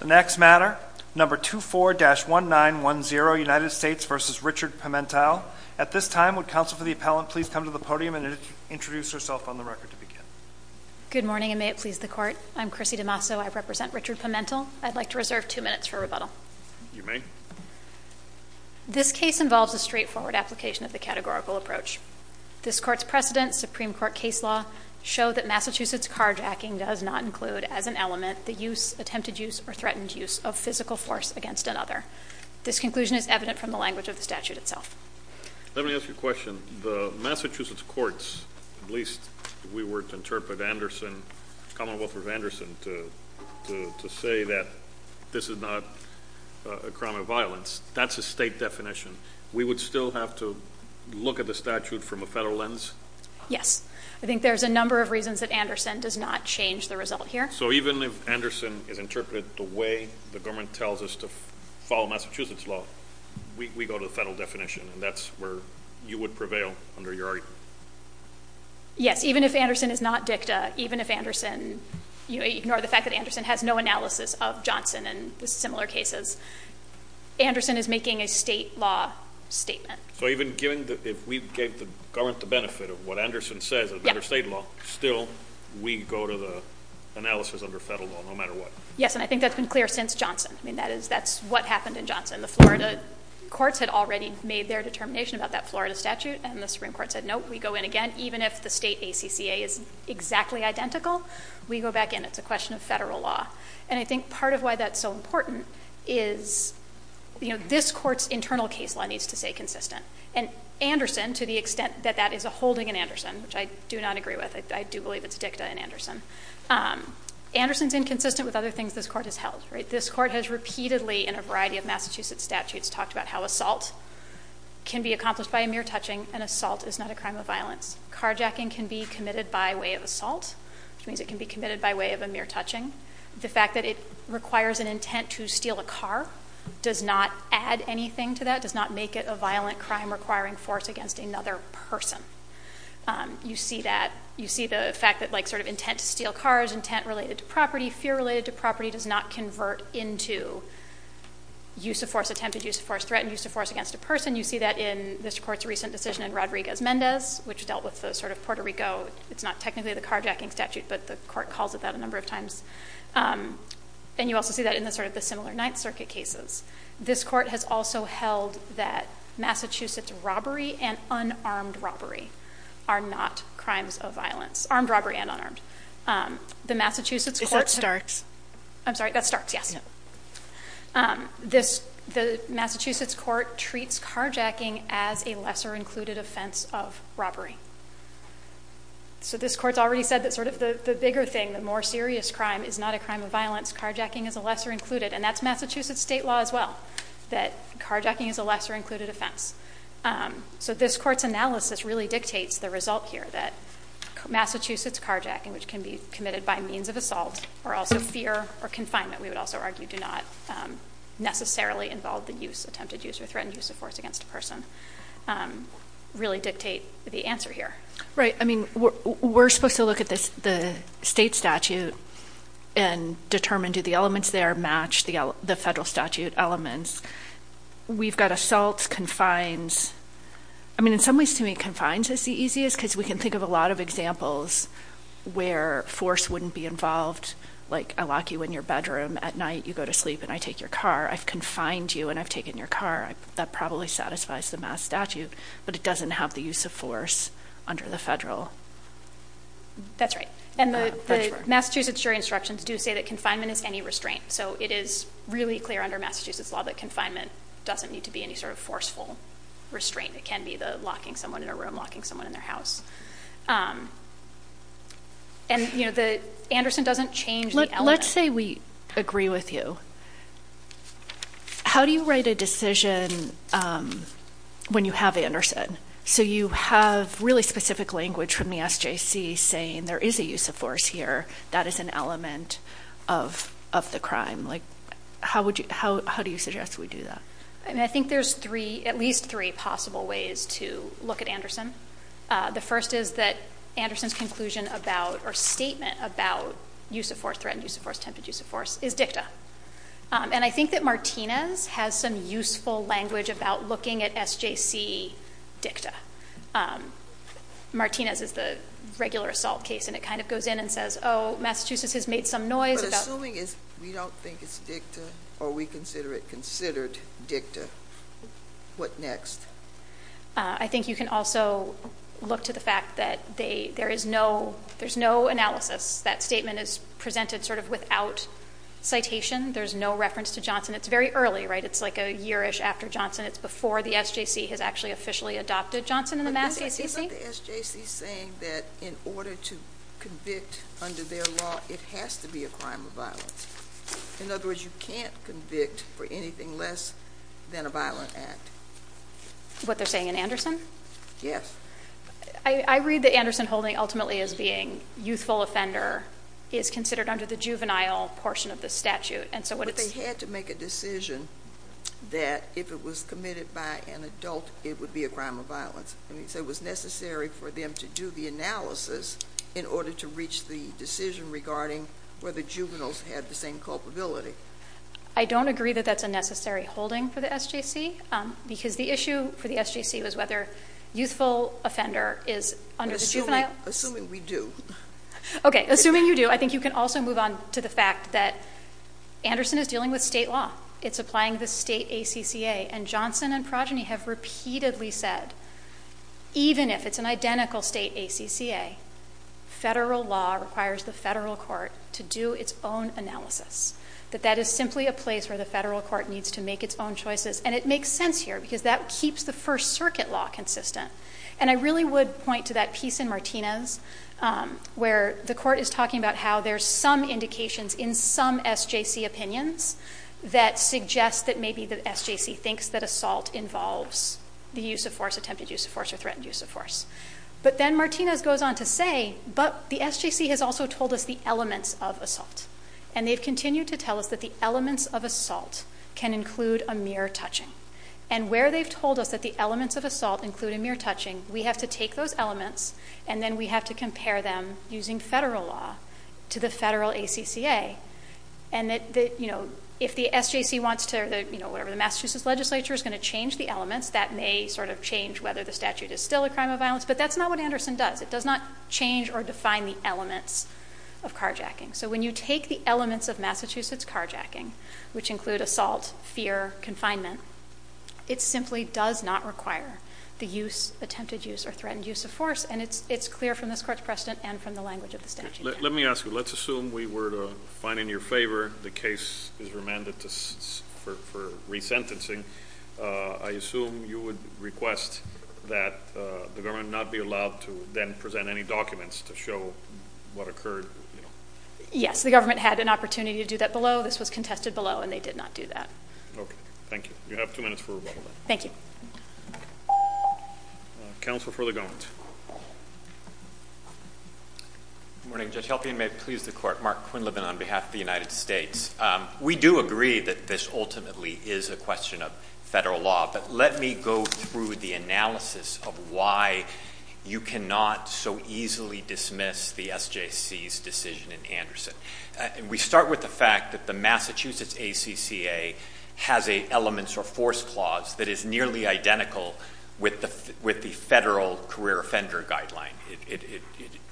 The next matter, number 24-1910, United States v. Richard Pimental. At this time, would counsel for the appellant please come to the podium and introduce herself on the record to begin? Good morning, and may it please the Court. I'm Chrissy DiMasso. I represent Richard Pimental. I'd like to reserve two minutes for rebuttal. You may. This case involves a straightforward application of the categorical approach. This Court's precedent, Supreme Court case law, showed that Massachusetts carjacking does not include, as an element, the use, attempted use, or threatened use, of physical force against another. This conclusion is evident from the language of the statute itself. Let me ask you a question. The Massachusetts courts, at least we were to interpret Anderson, Commonwealth v. Anderson, to say that this is not a crime of violence, that's a state definition. We would still have to look at the statute from a federal lens? Yes. I think there's a number of reasons that Anderson does not change the result here. So even if Anderson is interpreted the way the government tells us to follow Massachusetts law, we go to the federal definition, and that's where you would prevail under your argument? Yes. Even if Anderson is not dicta, even if Anderson, ignore the fact that Anderson has no analysis of Johnson and similar cases, Anderson is making a state law statement. So even if we gave the government the benefit of what Anderson says under state law, still we go to the analysis under federal law, no matter what? Yes, and I think that's been clear since Johnson. That's what happened in Johnson. The Florida courts had already made their determination about that Florida statute, and the Supreme Court said, nope, we go in again. Even if the state ACCA is exactly identical, we go back in. It's a question of federal law. And I think part of why that's so important is, you know, this court's internal case law needs to stay consistent. And Anderson, to the extent that that is a holding in Anderson, which I do not agree with, I do believe it's dicta in Anderson, Anderson's inconsistent with other things this court has held, right? This court has repeatedly, in a variety of Massachusetts statutes, talked about how assault can be accomplished by a mere touching, and assault is not a crime of violence. Carjacking can be committed by way of assault, which means it can be committed by way of a mere touching. The fact that it requires an intent to steal a car does not add anything to that, does not make it a violent crime requiring force against another person. You see the fact that, like, sort of intent to steal cars, intent related to property, fear related to property, does not convert into use of force attempted, use of force threatened, use of force against a person. You see that in this court's recent decision in Rodriguez-Mendez, which dealt with the sort of Puerto Rico, it's not technically the carjacking statute, but the court calls it that a number of times. And you also see that in the sort of the similar Ninth Circuit cases. This court has also held that Massachusetts robbery and unarmed robbery are not crimes of violence, armed robbery and unarmed. The Massachusetts court- Is that Starks? I'm sorry, that's Starks, yes. The Massachusetts court treats carjacking as a lesser included offense of robbery. So this court's already said that sort of the bigger thing, the more serious crime is not a crime of violence, carjacking is a lesser included, and that's Massachusetts state law as well, that carjacking is a lesser included offense. So this court's analysis really dictates the result here, that Massachusetts carjacking, which can be committed by means of assault or also fear or confinement, we would also argue do not necessarily involve the use, attempted use or threatened use of force against a person, really dictate the answer here. Right. I mean we're supposed to look at the state statute and determine do the elements there match the federal statute elements. We've got assaults, confines. I mean in some ways to me confines is the easiest because we can think of a lot of examples where force wouldn't be involved, like I lock you in your bedroom at night, you go to sleep and I take your car. I've confined you and I've taken your car. That probably satisfies the mass statute, but it doesn't have the use of force under the federal. That's right. And the Massachusetts jury instructions do say that confinement is any restraint. So it is really clear under Massachusetts law that confinement doesn't need to be any sort of forceful restraint. It can be the locking someone in a room, locking someone in their house. And, you know, Anderson doesn't change the element. Let's say we agree with you. How do you write a decision when you have Anderson? So you have really specific language from the SJC saying there is a use of force here. That is an element of the crime. Like how do you suggest we do that? I mean I think there's at least three possible ways to look at Anderson. The first is that Anderson's conclusion about or statement about use of force, threatened use of force, tempted use of force, is dicta. And I think that Martinez has some useful language about looking at SJC dicta. Martinez is the regular assault case, and it kind of goes in and says, oh, Massachusetts has made some noise. But assuming we don't think it's dicta or we consider it considered dicta, what next? I think you can also look to the fact that there is no analysis. That statement is presented sort of without citation. There's no reference to Johnson. It's very early, right? It's like a yearish after Johnson. It's before the SJC has actually officially adopted Johnson in the MassACC. Isn't the SJC saying that in order to convict under their law, it has to be a crime of violence? In other words, you can't convict for anything less than a violent act. What they're saying in Anderson? Yes. I read that Anderson holding ultimately as being youthful offender is considered under the juvenile portion of the statute. But they had to make a decision that if it was committed by an adult, it would be a crime of violence. So it was necessary for them to do the analysis in order to reach the decision regarding whether juveniles had the same culpability. I don't agree that that's a necessary holding for the SJC because the issue for the SJC was whether youthful offender is under the juvenile. Assuming we do. Okay. Assuming you do, I think you can also move on to the fact that Anderson is dealing with state law. It's applying the state ACCA, and Johnson and Progeny have repeatedly said, even if it's an identical state ACCA, federal law requires the federal court to do its own analysis. That that is simply a place where the federal court needs to make its own choices. And it makes sense here because that keeps the First Circuit law consistent. And I really would point to that piece in Martinez where the court is talking about how there's some indications in some SJC opinions that suggest that maybe the SJC thinks that assault involves the use of force, attempted use of force, or threatened use of force. But then Martinez goes on to say, but the SJC has also told us the elements of assault. And they've continued to tell us that the elements of assault can include a mere touching. And where they've told us that the elements of assault include a mere touching, we have to take those elements and then we have to compare them using federal law to the federal ACCA. And that, you know, if the SJC wants to, you know, whatever, the Massachusetts legislature is going to change the elements. That may sort of change whether the statute is still a crime of violence. But that's not what Anderson does. It does not change or define the elements of carjacking. So when you take the elements of Massachusetts carjacking, which include assault, fear, confinement, it simply does not require the use, attempted use, or threatened use of force. And it's clear from this Court's precedent and from the language of the statute. Let me ask you. Let's assume we were to find in your favor the case is remanded for resentencing. I assume you would request that the government not be allowed to then present any documents to show what occurred. Yes. The government had an opportunity to do that below. This was contested below, and they did not do that. Okay. Thank you. You have two minutes for rebuttal. Thank you. Counsel for the government. Good morning. Judge Helfian, may it please the Court. Mark Quinlivan on behalf of the United States. We do agree that this ultimately is a question of federal law. But let me go through the analysis of why you cannot so easily dismiss the SJC's decision in Anderson. We start with the fact that the Massachusetts ACCA has an elements or force clause that is nearly identical with the federal career offender guideline.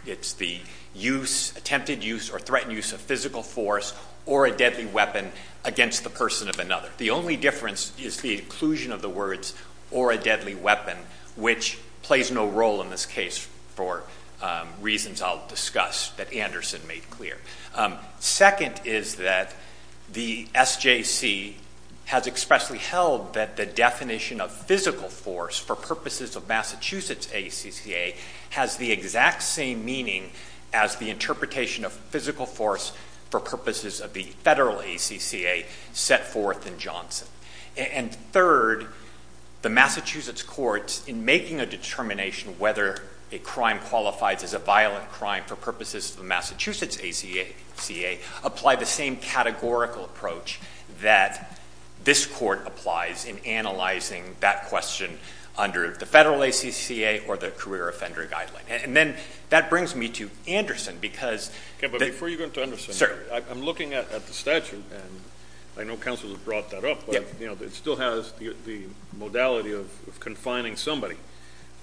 It's the use, attempted use, or threatened use of physical force or a deadly weapon against the person of another. The only difference is the inclusion of the words or a deadly weapon, which plays no role in this case for reasons I'll discuss that Anderson made clear. Second is that the SJC has expressly held that the definition of physical force for purposes of Massachusetts ACCA has the exact same meaning as the interpretation of physical force for purposes of the federal ACCA set forth in Johnson. And third, the Massachusetts courts, in making a determination whether a crime qualifies as a violent crime for purposes of the Massachusetts ACCA, apply the same categorical approach that this Court applies in analyzing that question under the federal ACCA or the career offender guideline. And then that brings me to Anderson because... Okay, but before you go into Anderson, I'm looking at the statute, and I know counsel has brought that up, but it still has the modality of confining somebody.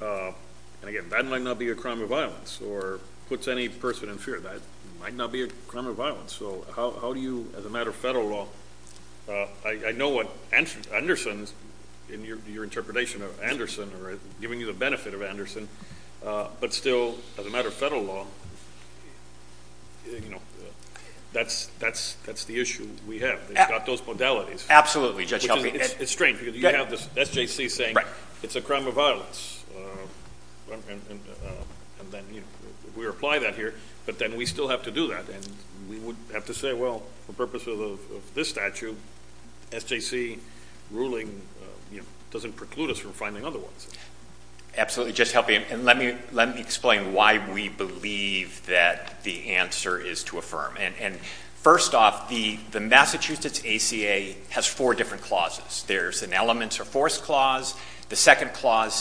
And again, that might not be a crime of violence or puts any person in fear. That might not be a crime of violence. So how do you, as a matter of federal law, I know what Anderson's, in your interpretation of Anderson or giving you the benefit of Anderson, but still, as a matter of federal law, that's the issue we have. They've got those modalities. Absolutely, Judge Helping. It's strange because you have this SJC saying it's a crime of violence, and then we apply that here, but then we still have to do that. And we would have to say, well, for purposes of this statute, SJC ruling doesn't preclude us from finding other ones. Absolutely, Judge Helping, and let me explain why we believe that the answer is to affirm. And first off, the Massachusetts ACA has four different clauses. There's an elements or force clause. The second clause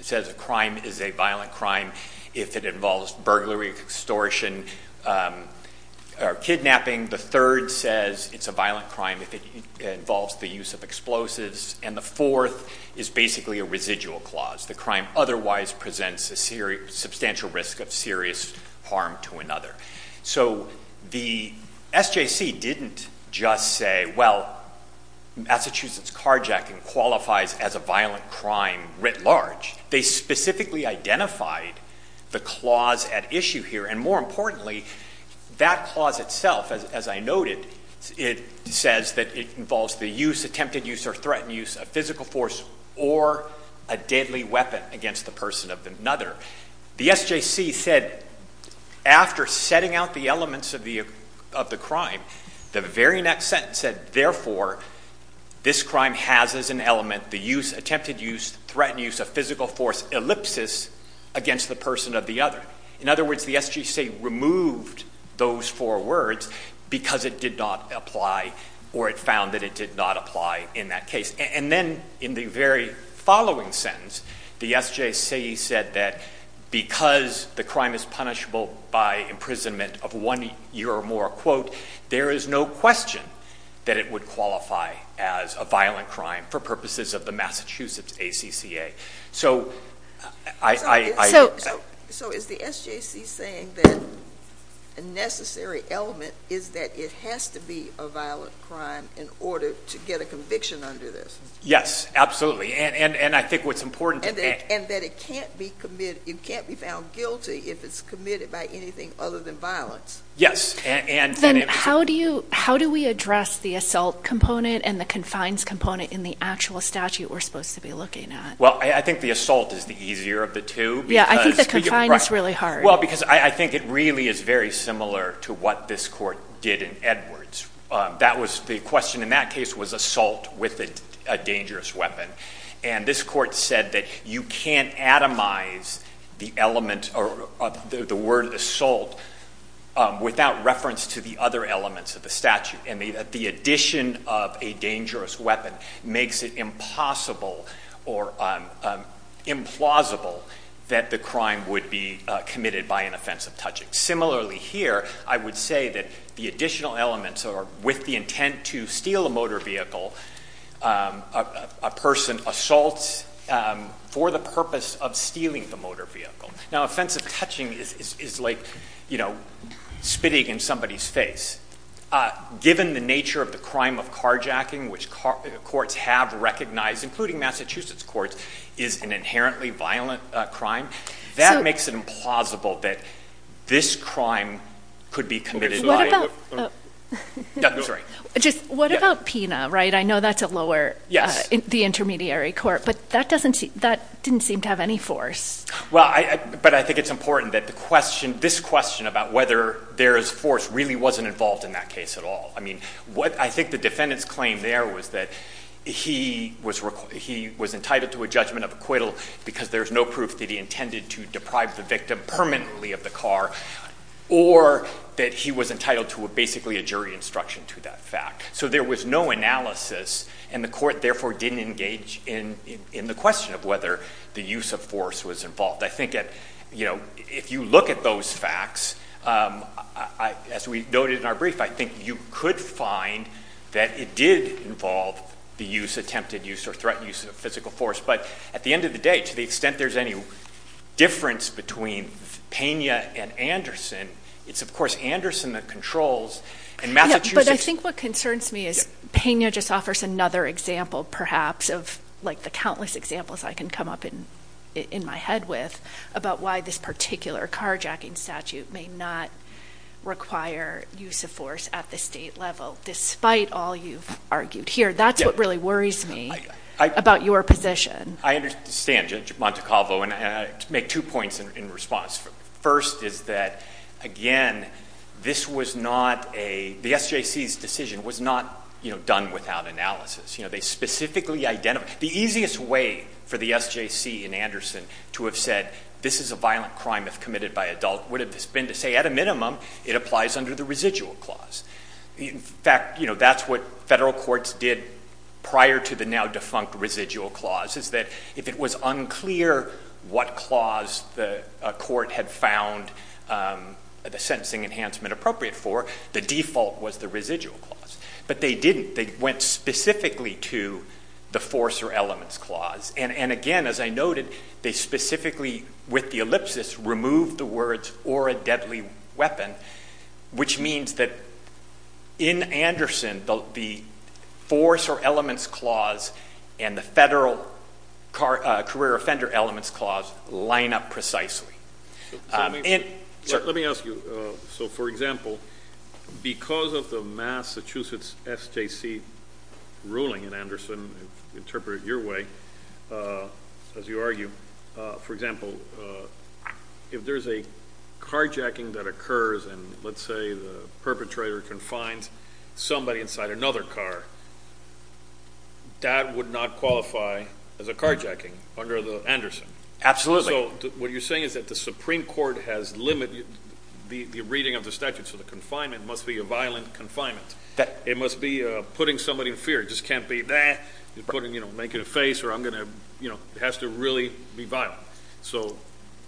says a crime is a violent crime if it involves burglary, extortion, or kidnapping. The third says it's a violent crime if it involves the use of explosives. And the fourth is basically a residual clause. The crime otherwise presents a substantial risk of serious harm to another. So the SJC didn't just say, well, Massachusetts carjacking qualifies as a violent crime writ large. They specifically identified the clause at issue here. And more importantly, that clause itself, as I noted, it says that it involves the use, attempted use or threatened use of physical force or a deadly weapon against the person of another. The SJC said after setting out the elements of the crime, the very next sentence said, therefore, this crime has as an element the use, attempted use, threatened use of physical force ellipsis against the person of the other. In other words, the SJC removed those four words because it did not apply or it found that it did not apply in that case. And then in the very following sentence, the SJC said that because the crime is punishable by imprisonment of one year or more, quote, there is no question that it would qualify as a violent crime for purposes of the Massachusetts ACCA. So I. So is the SJC saying that a necessary element is that it has to be a violent crime in order to get a conviction under this? Yes, absolutely. And I think what's important. And that it can't be committed, it can't be found guilty if it's committed by anything other than violence. Yes. And then how do you how do we address the assault component and the confines component in the actual statute we're supposed to be looking at? Well, I think the assault is the easier of the two. Yeah, I think the confine is really hard. Well, because I think it really is very similar to what this court did in Edwards. That was the question in that case was assault with a dangerous weapon. And this court said that you can't atomize the element or the word assault without reference to the other elements of the statute. And the addition of a dangerous weapon makes it impossible or implausible that the crime would be committed by an offensive touching. Similarly here, I would say that the additional elements are with the intent to steal a motor vehicle, a person assaults for the purpose of stealing the motor vehicle. Now, offensive touching is like spitting in somebody's face. Given the nature of the crime of carjacking, which courts have recognized, including Massachusetts courts, is an inherently violent crime. That makes it implausible that this crime could be committed. What about PINA? I know that's a lower, the intermediary court. But that didn't seem to have any force. Well, but I think it's important that this question about whether there is force really wasn't involved in that case at all. I mean, I think the defendant's claim there was that he was entitled to a judgment of acquittal because there's no proof that he intended to deprive the victim permanently of the car. Or that he was entitled to basically a jury instruction to that fact. So there was no analysis, and the court therefore didn't engage in the question of whether the use of force was involved. I think if you look at those facts, as we noted in our brief, I think you could find that it did involve the use, attempted use or threatened use of physical force. But at the end of the day, to the extent there's any difference between PINA and Anderson, it's of course Anderson that controls. But I think what concerns me is PINA just offers another example, perhaps, of like the countless examples I can come up in my head with, about why this particular carjacking statute may not require use of force at the state level, despite all you've argued here. That's what really worries me about your position. I understand, Judge Montecalvo, and I make two points in response. First is that, again, this was not a – the SJC's decision was not done without analysis. They specifically identified – the easiest way for the SJC in Anderson to have said, this is a violent crime if committed by adult would have been to say, at a minimum, it applies under the residual clause. In fact, that's what federal courts did prior to the now defunct residual clause, is that if it was unclear what clause the court had found the sentencing enhancement appropriate for, the default was the residual clause. But they didn't. They went specifically to the force or elements clause. And again, as I noted, they specifically, with the ellipsis, removed the words, or a deadly weapon, which means that in Anderson, the force or elements clause and the federal career offender elements clause line up precisely. Let me ask you. So, for example, because of the Massachusetts SJC ruling in Anderson, interpret it your way, as you argue, for example, if there's a carjacking that occurs and, let's say, the perpetrator confines somebody inside another car, that would not qualify as a carjacking under the Anderson. Absolutely. So what you're saying is that the Supreme Court has limited the reading of the statute, so the confinement must be a violent confinement. It must be putting somebody in fear. It just can't be, you know, making a face or I'm going to, you know, it has to really be violent. So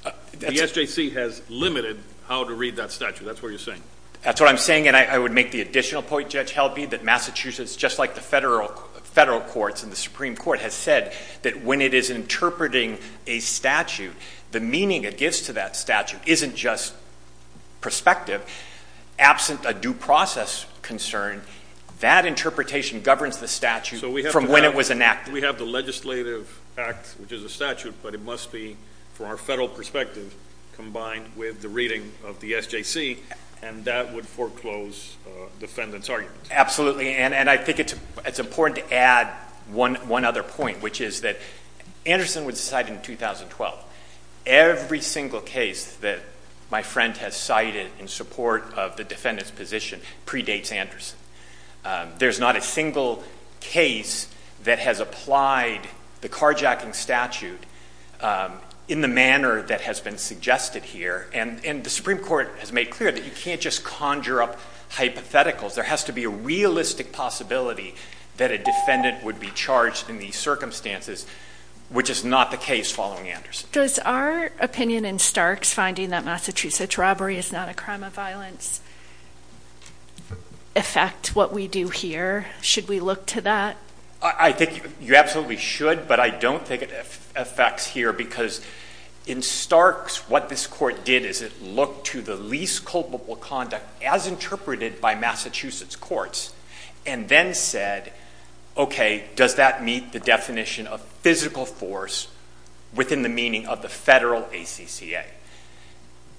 the SJC has limited how to read that statute. That's what you're saying. That's what I'm saying, and I would make the additional point, Judge Helby, that Massachusetts, just like the federal courts and the Supreme Court, has said that when it is interpreting a statute, the meaning it gives to that statute isn't just perspective. But absent a due process concern, that interpretation governs the statute from when it was enacted. So we have the legislative act, which is a statute, but it must be, from our federal perspective, combined with the reading of the SJC, and that would foreclose defendant's argument. Absolutely, and I think it's important to add one other point, which is that Anderson was decided in 2012. Every single case that my friend has cited in support of the defendant's position predates Anderson. There's not a single case that has applied the carjacking statute in the manner that has been suggested here, and the Supreme Court has made clear that you can't just conjure up hypotheticals. There has to be a realistic possibility that a defendant would be charged in these circumstances, which is not the case following Anderson. Does our opinion in Starks finding that Massachusetts robbery is not a crime of violence affect what we do here? Should we look to that? I think you absolutely should, but I don't think it affects here because in Starks, what this court did is it looked to the least culpable conduct as interpreted by Massachusetts courts and then said, okay, does that meet the definition of physical force within the meaning of the federal ACCA?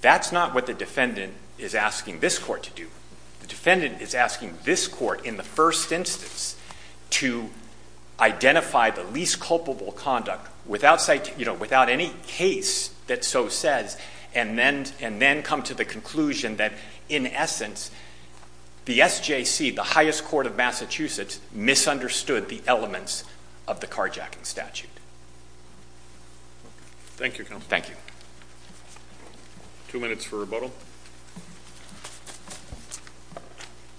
That's not what the defendant is asking this court to do. The defendant is asking this court in the first instance to identify the least culpable conduct without any case that so says and then come to the conclusion that in essence the SJC, the highest court of Massachusetts, misunderstood the elements of the carjacking statute. Thank you, counsel. Thank you. Two minutes for rebuttal.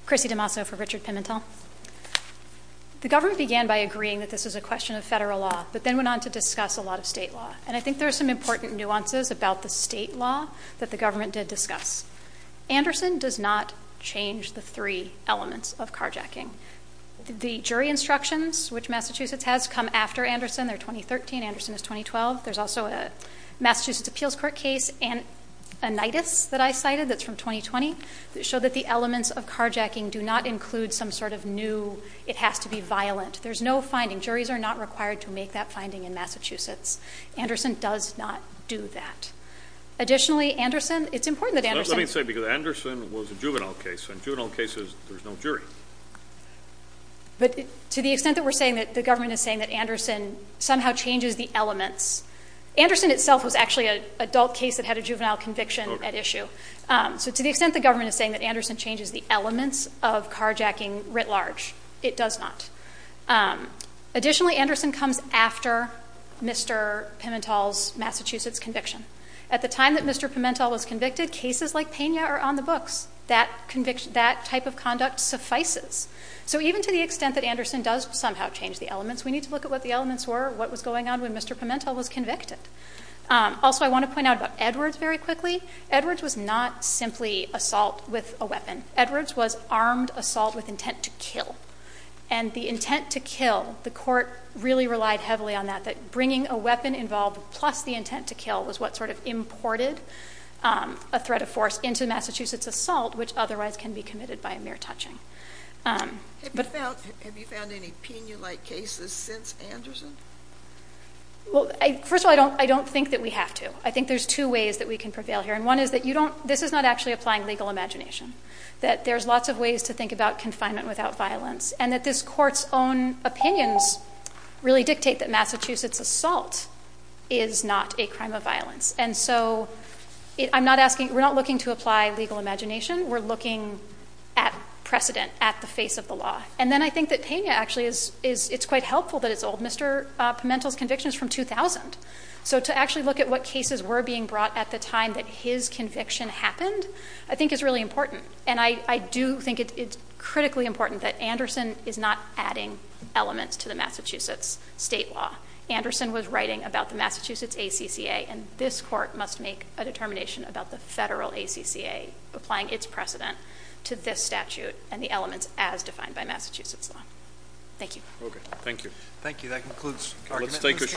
Chrissy DeMasso for Richard Pimentel. The government began by agreeing that this was a question of federal law but then went on to discuss a lot of state law, and I think there are some important nuances about the state law that the government did discuss. Anderson does not change the three elements of carjacking. The jury instructions, which Massachusetts has, come after Anderson. They're 2013. Anderson is 2012. There's also a Massachusetts appeals court case, Anitis, that I cited that's from 2020, that showed that the elements of carjacking do not include some sort of new it has to be violent. There's no finding. Juries are not required to make that finding in Massachusetts. Anderson does not do that. Additionally, Anderson, it's important that Anderson. Let me say, because Anderson was a juvenile case. In juvenile cases, there's no jury. But to the extent that we're saying that the government is saying that Anderson somehow changes the elements, Anderson itself was actually an adult case that had a juvenile conviction at issue. So to the extent the government is saying that Anderson changes the elements of carjacking writ large, it does not. Additionally, Anderson comes after Mr. Pimentel's Massachusetts conviction. At the time that Mr. Pimentel was convicted, cases like Pena are on the books. That type of conduct suffices. So even to the extent that Anderson does somehow change the elements, we need to look at what the elements were, what was going on when Mr. Pimentel was convicted. Also, I want to point out about Edwards very quickly. Edwards was not simply assault with a weapon. Edwards was armed assault with intent to kill. And the intent to kill, the court really relied heavily on that, that bringing a weapon involved plus the intent to kill was what sort of imported a threat of force into Massachusetts assault, which otherwise can be committed by a mere touching. Have you found any Pena-like cases since Anderson? Well, first of all, I don't think that we have to. I think there's two ways that we can prevail here. And one is that this is not actually applying legal imagination, that there's lots of ways to think about confinement without violence, and that this court's own opinions really dictate that Massachusetts assault is not a crime of violence. And so I'm not asking, we're not looking to apply legal imagination. We're looking at precedent at the face of the law. And then I think that Pena actually is, it's quite helpful that it's old. Mr. Pimentel's conviction is from 2000. So to actually look at what cases were being brought at the time that his conviction happened, I think is really important. And I do think it's critically important that Anderson is not adding elements to the Massachusetts state law. Anderson was writing about the Massachusetts ACCA, and this court must make a determination about the federal ACCA applying its precedent to this statute and the elements as defined by Massachusetts law. Thank you. Okay. Thank you. Thank you. That concludes argument.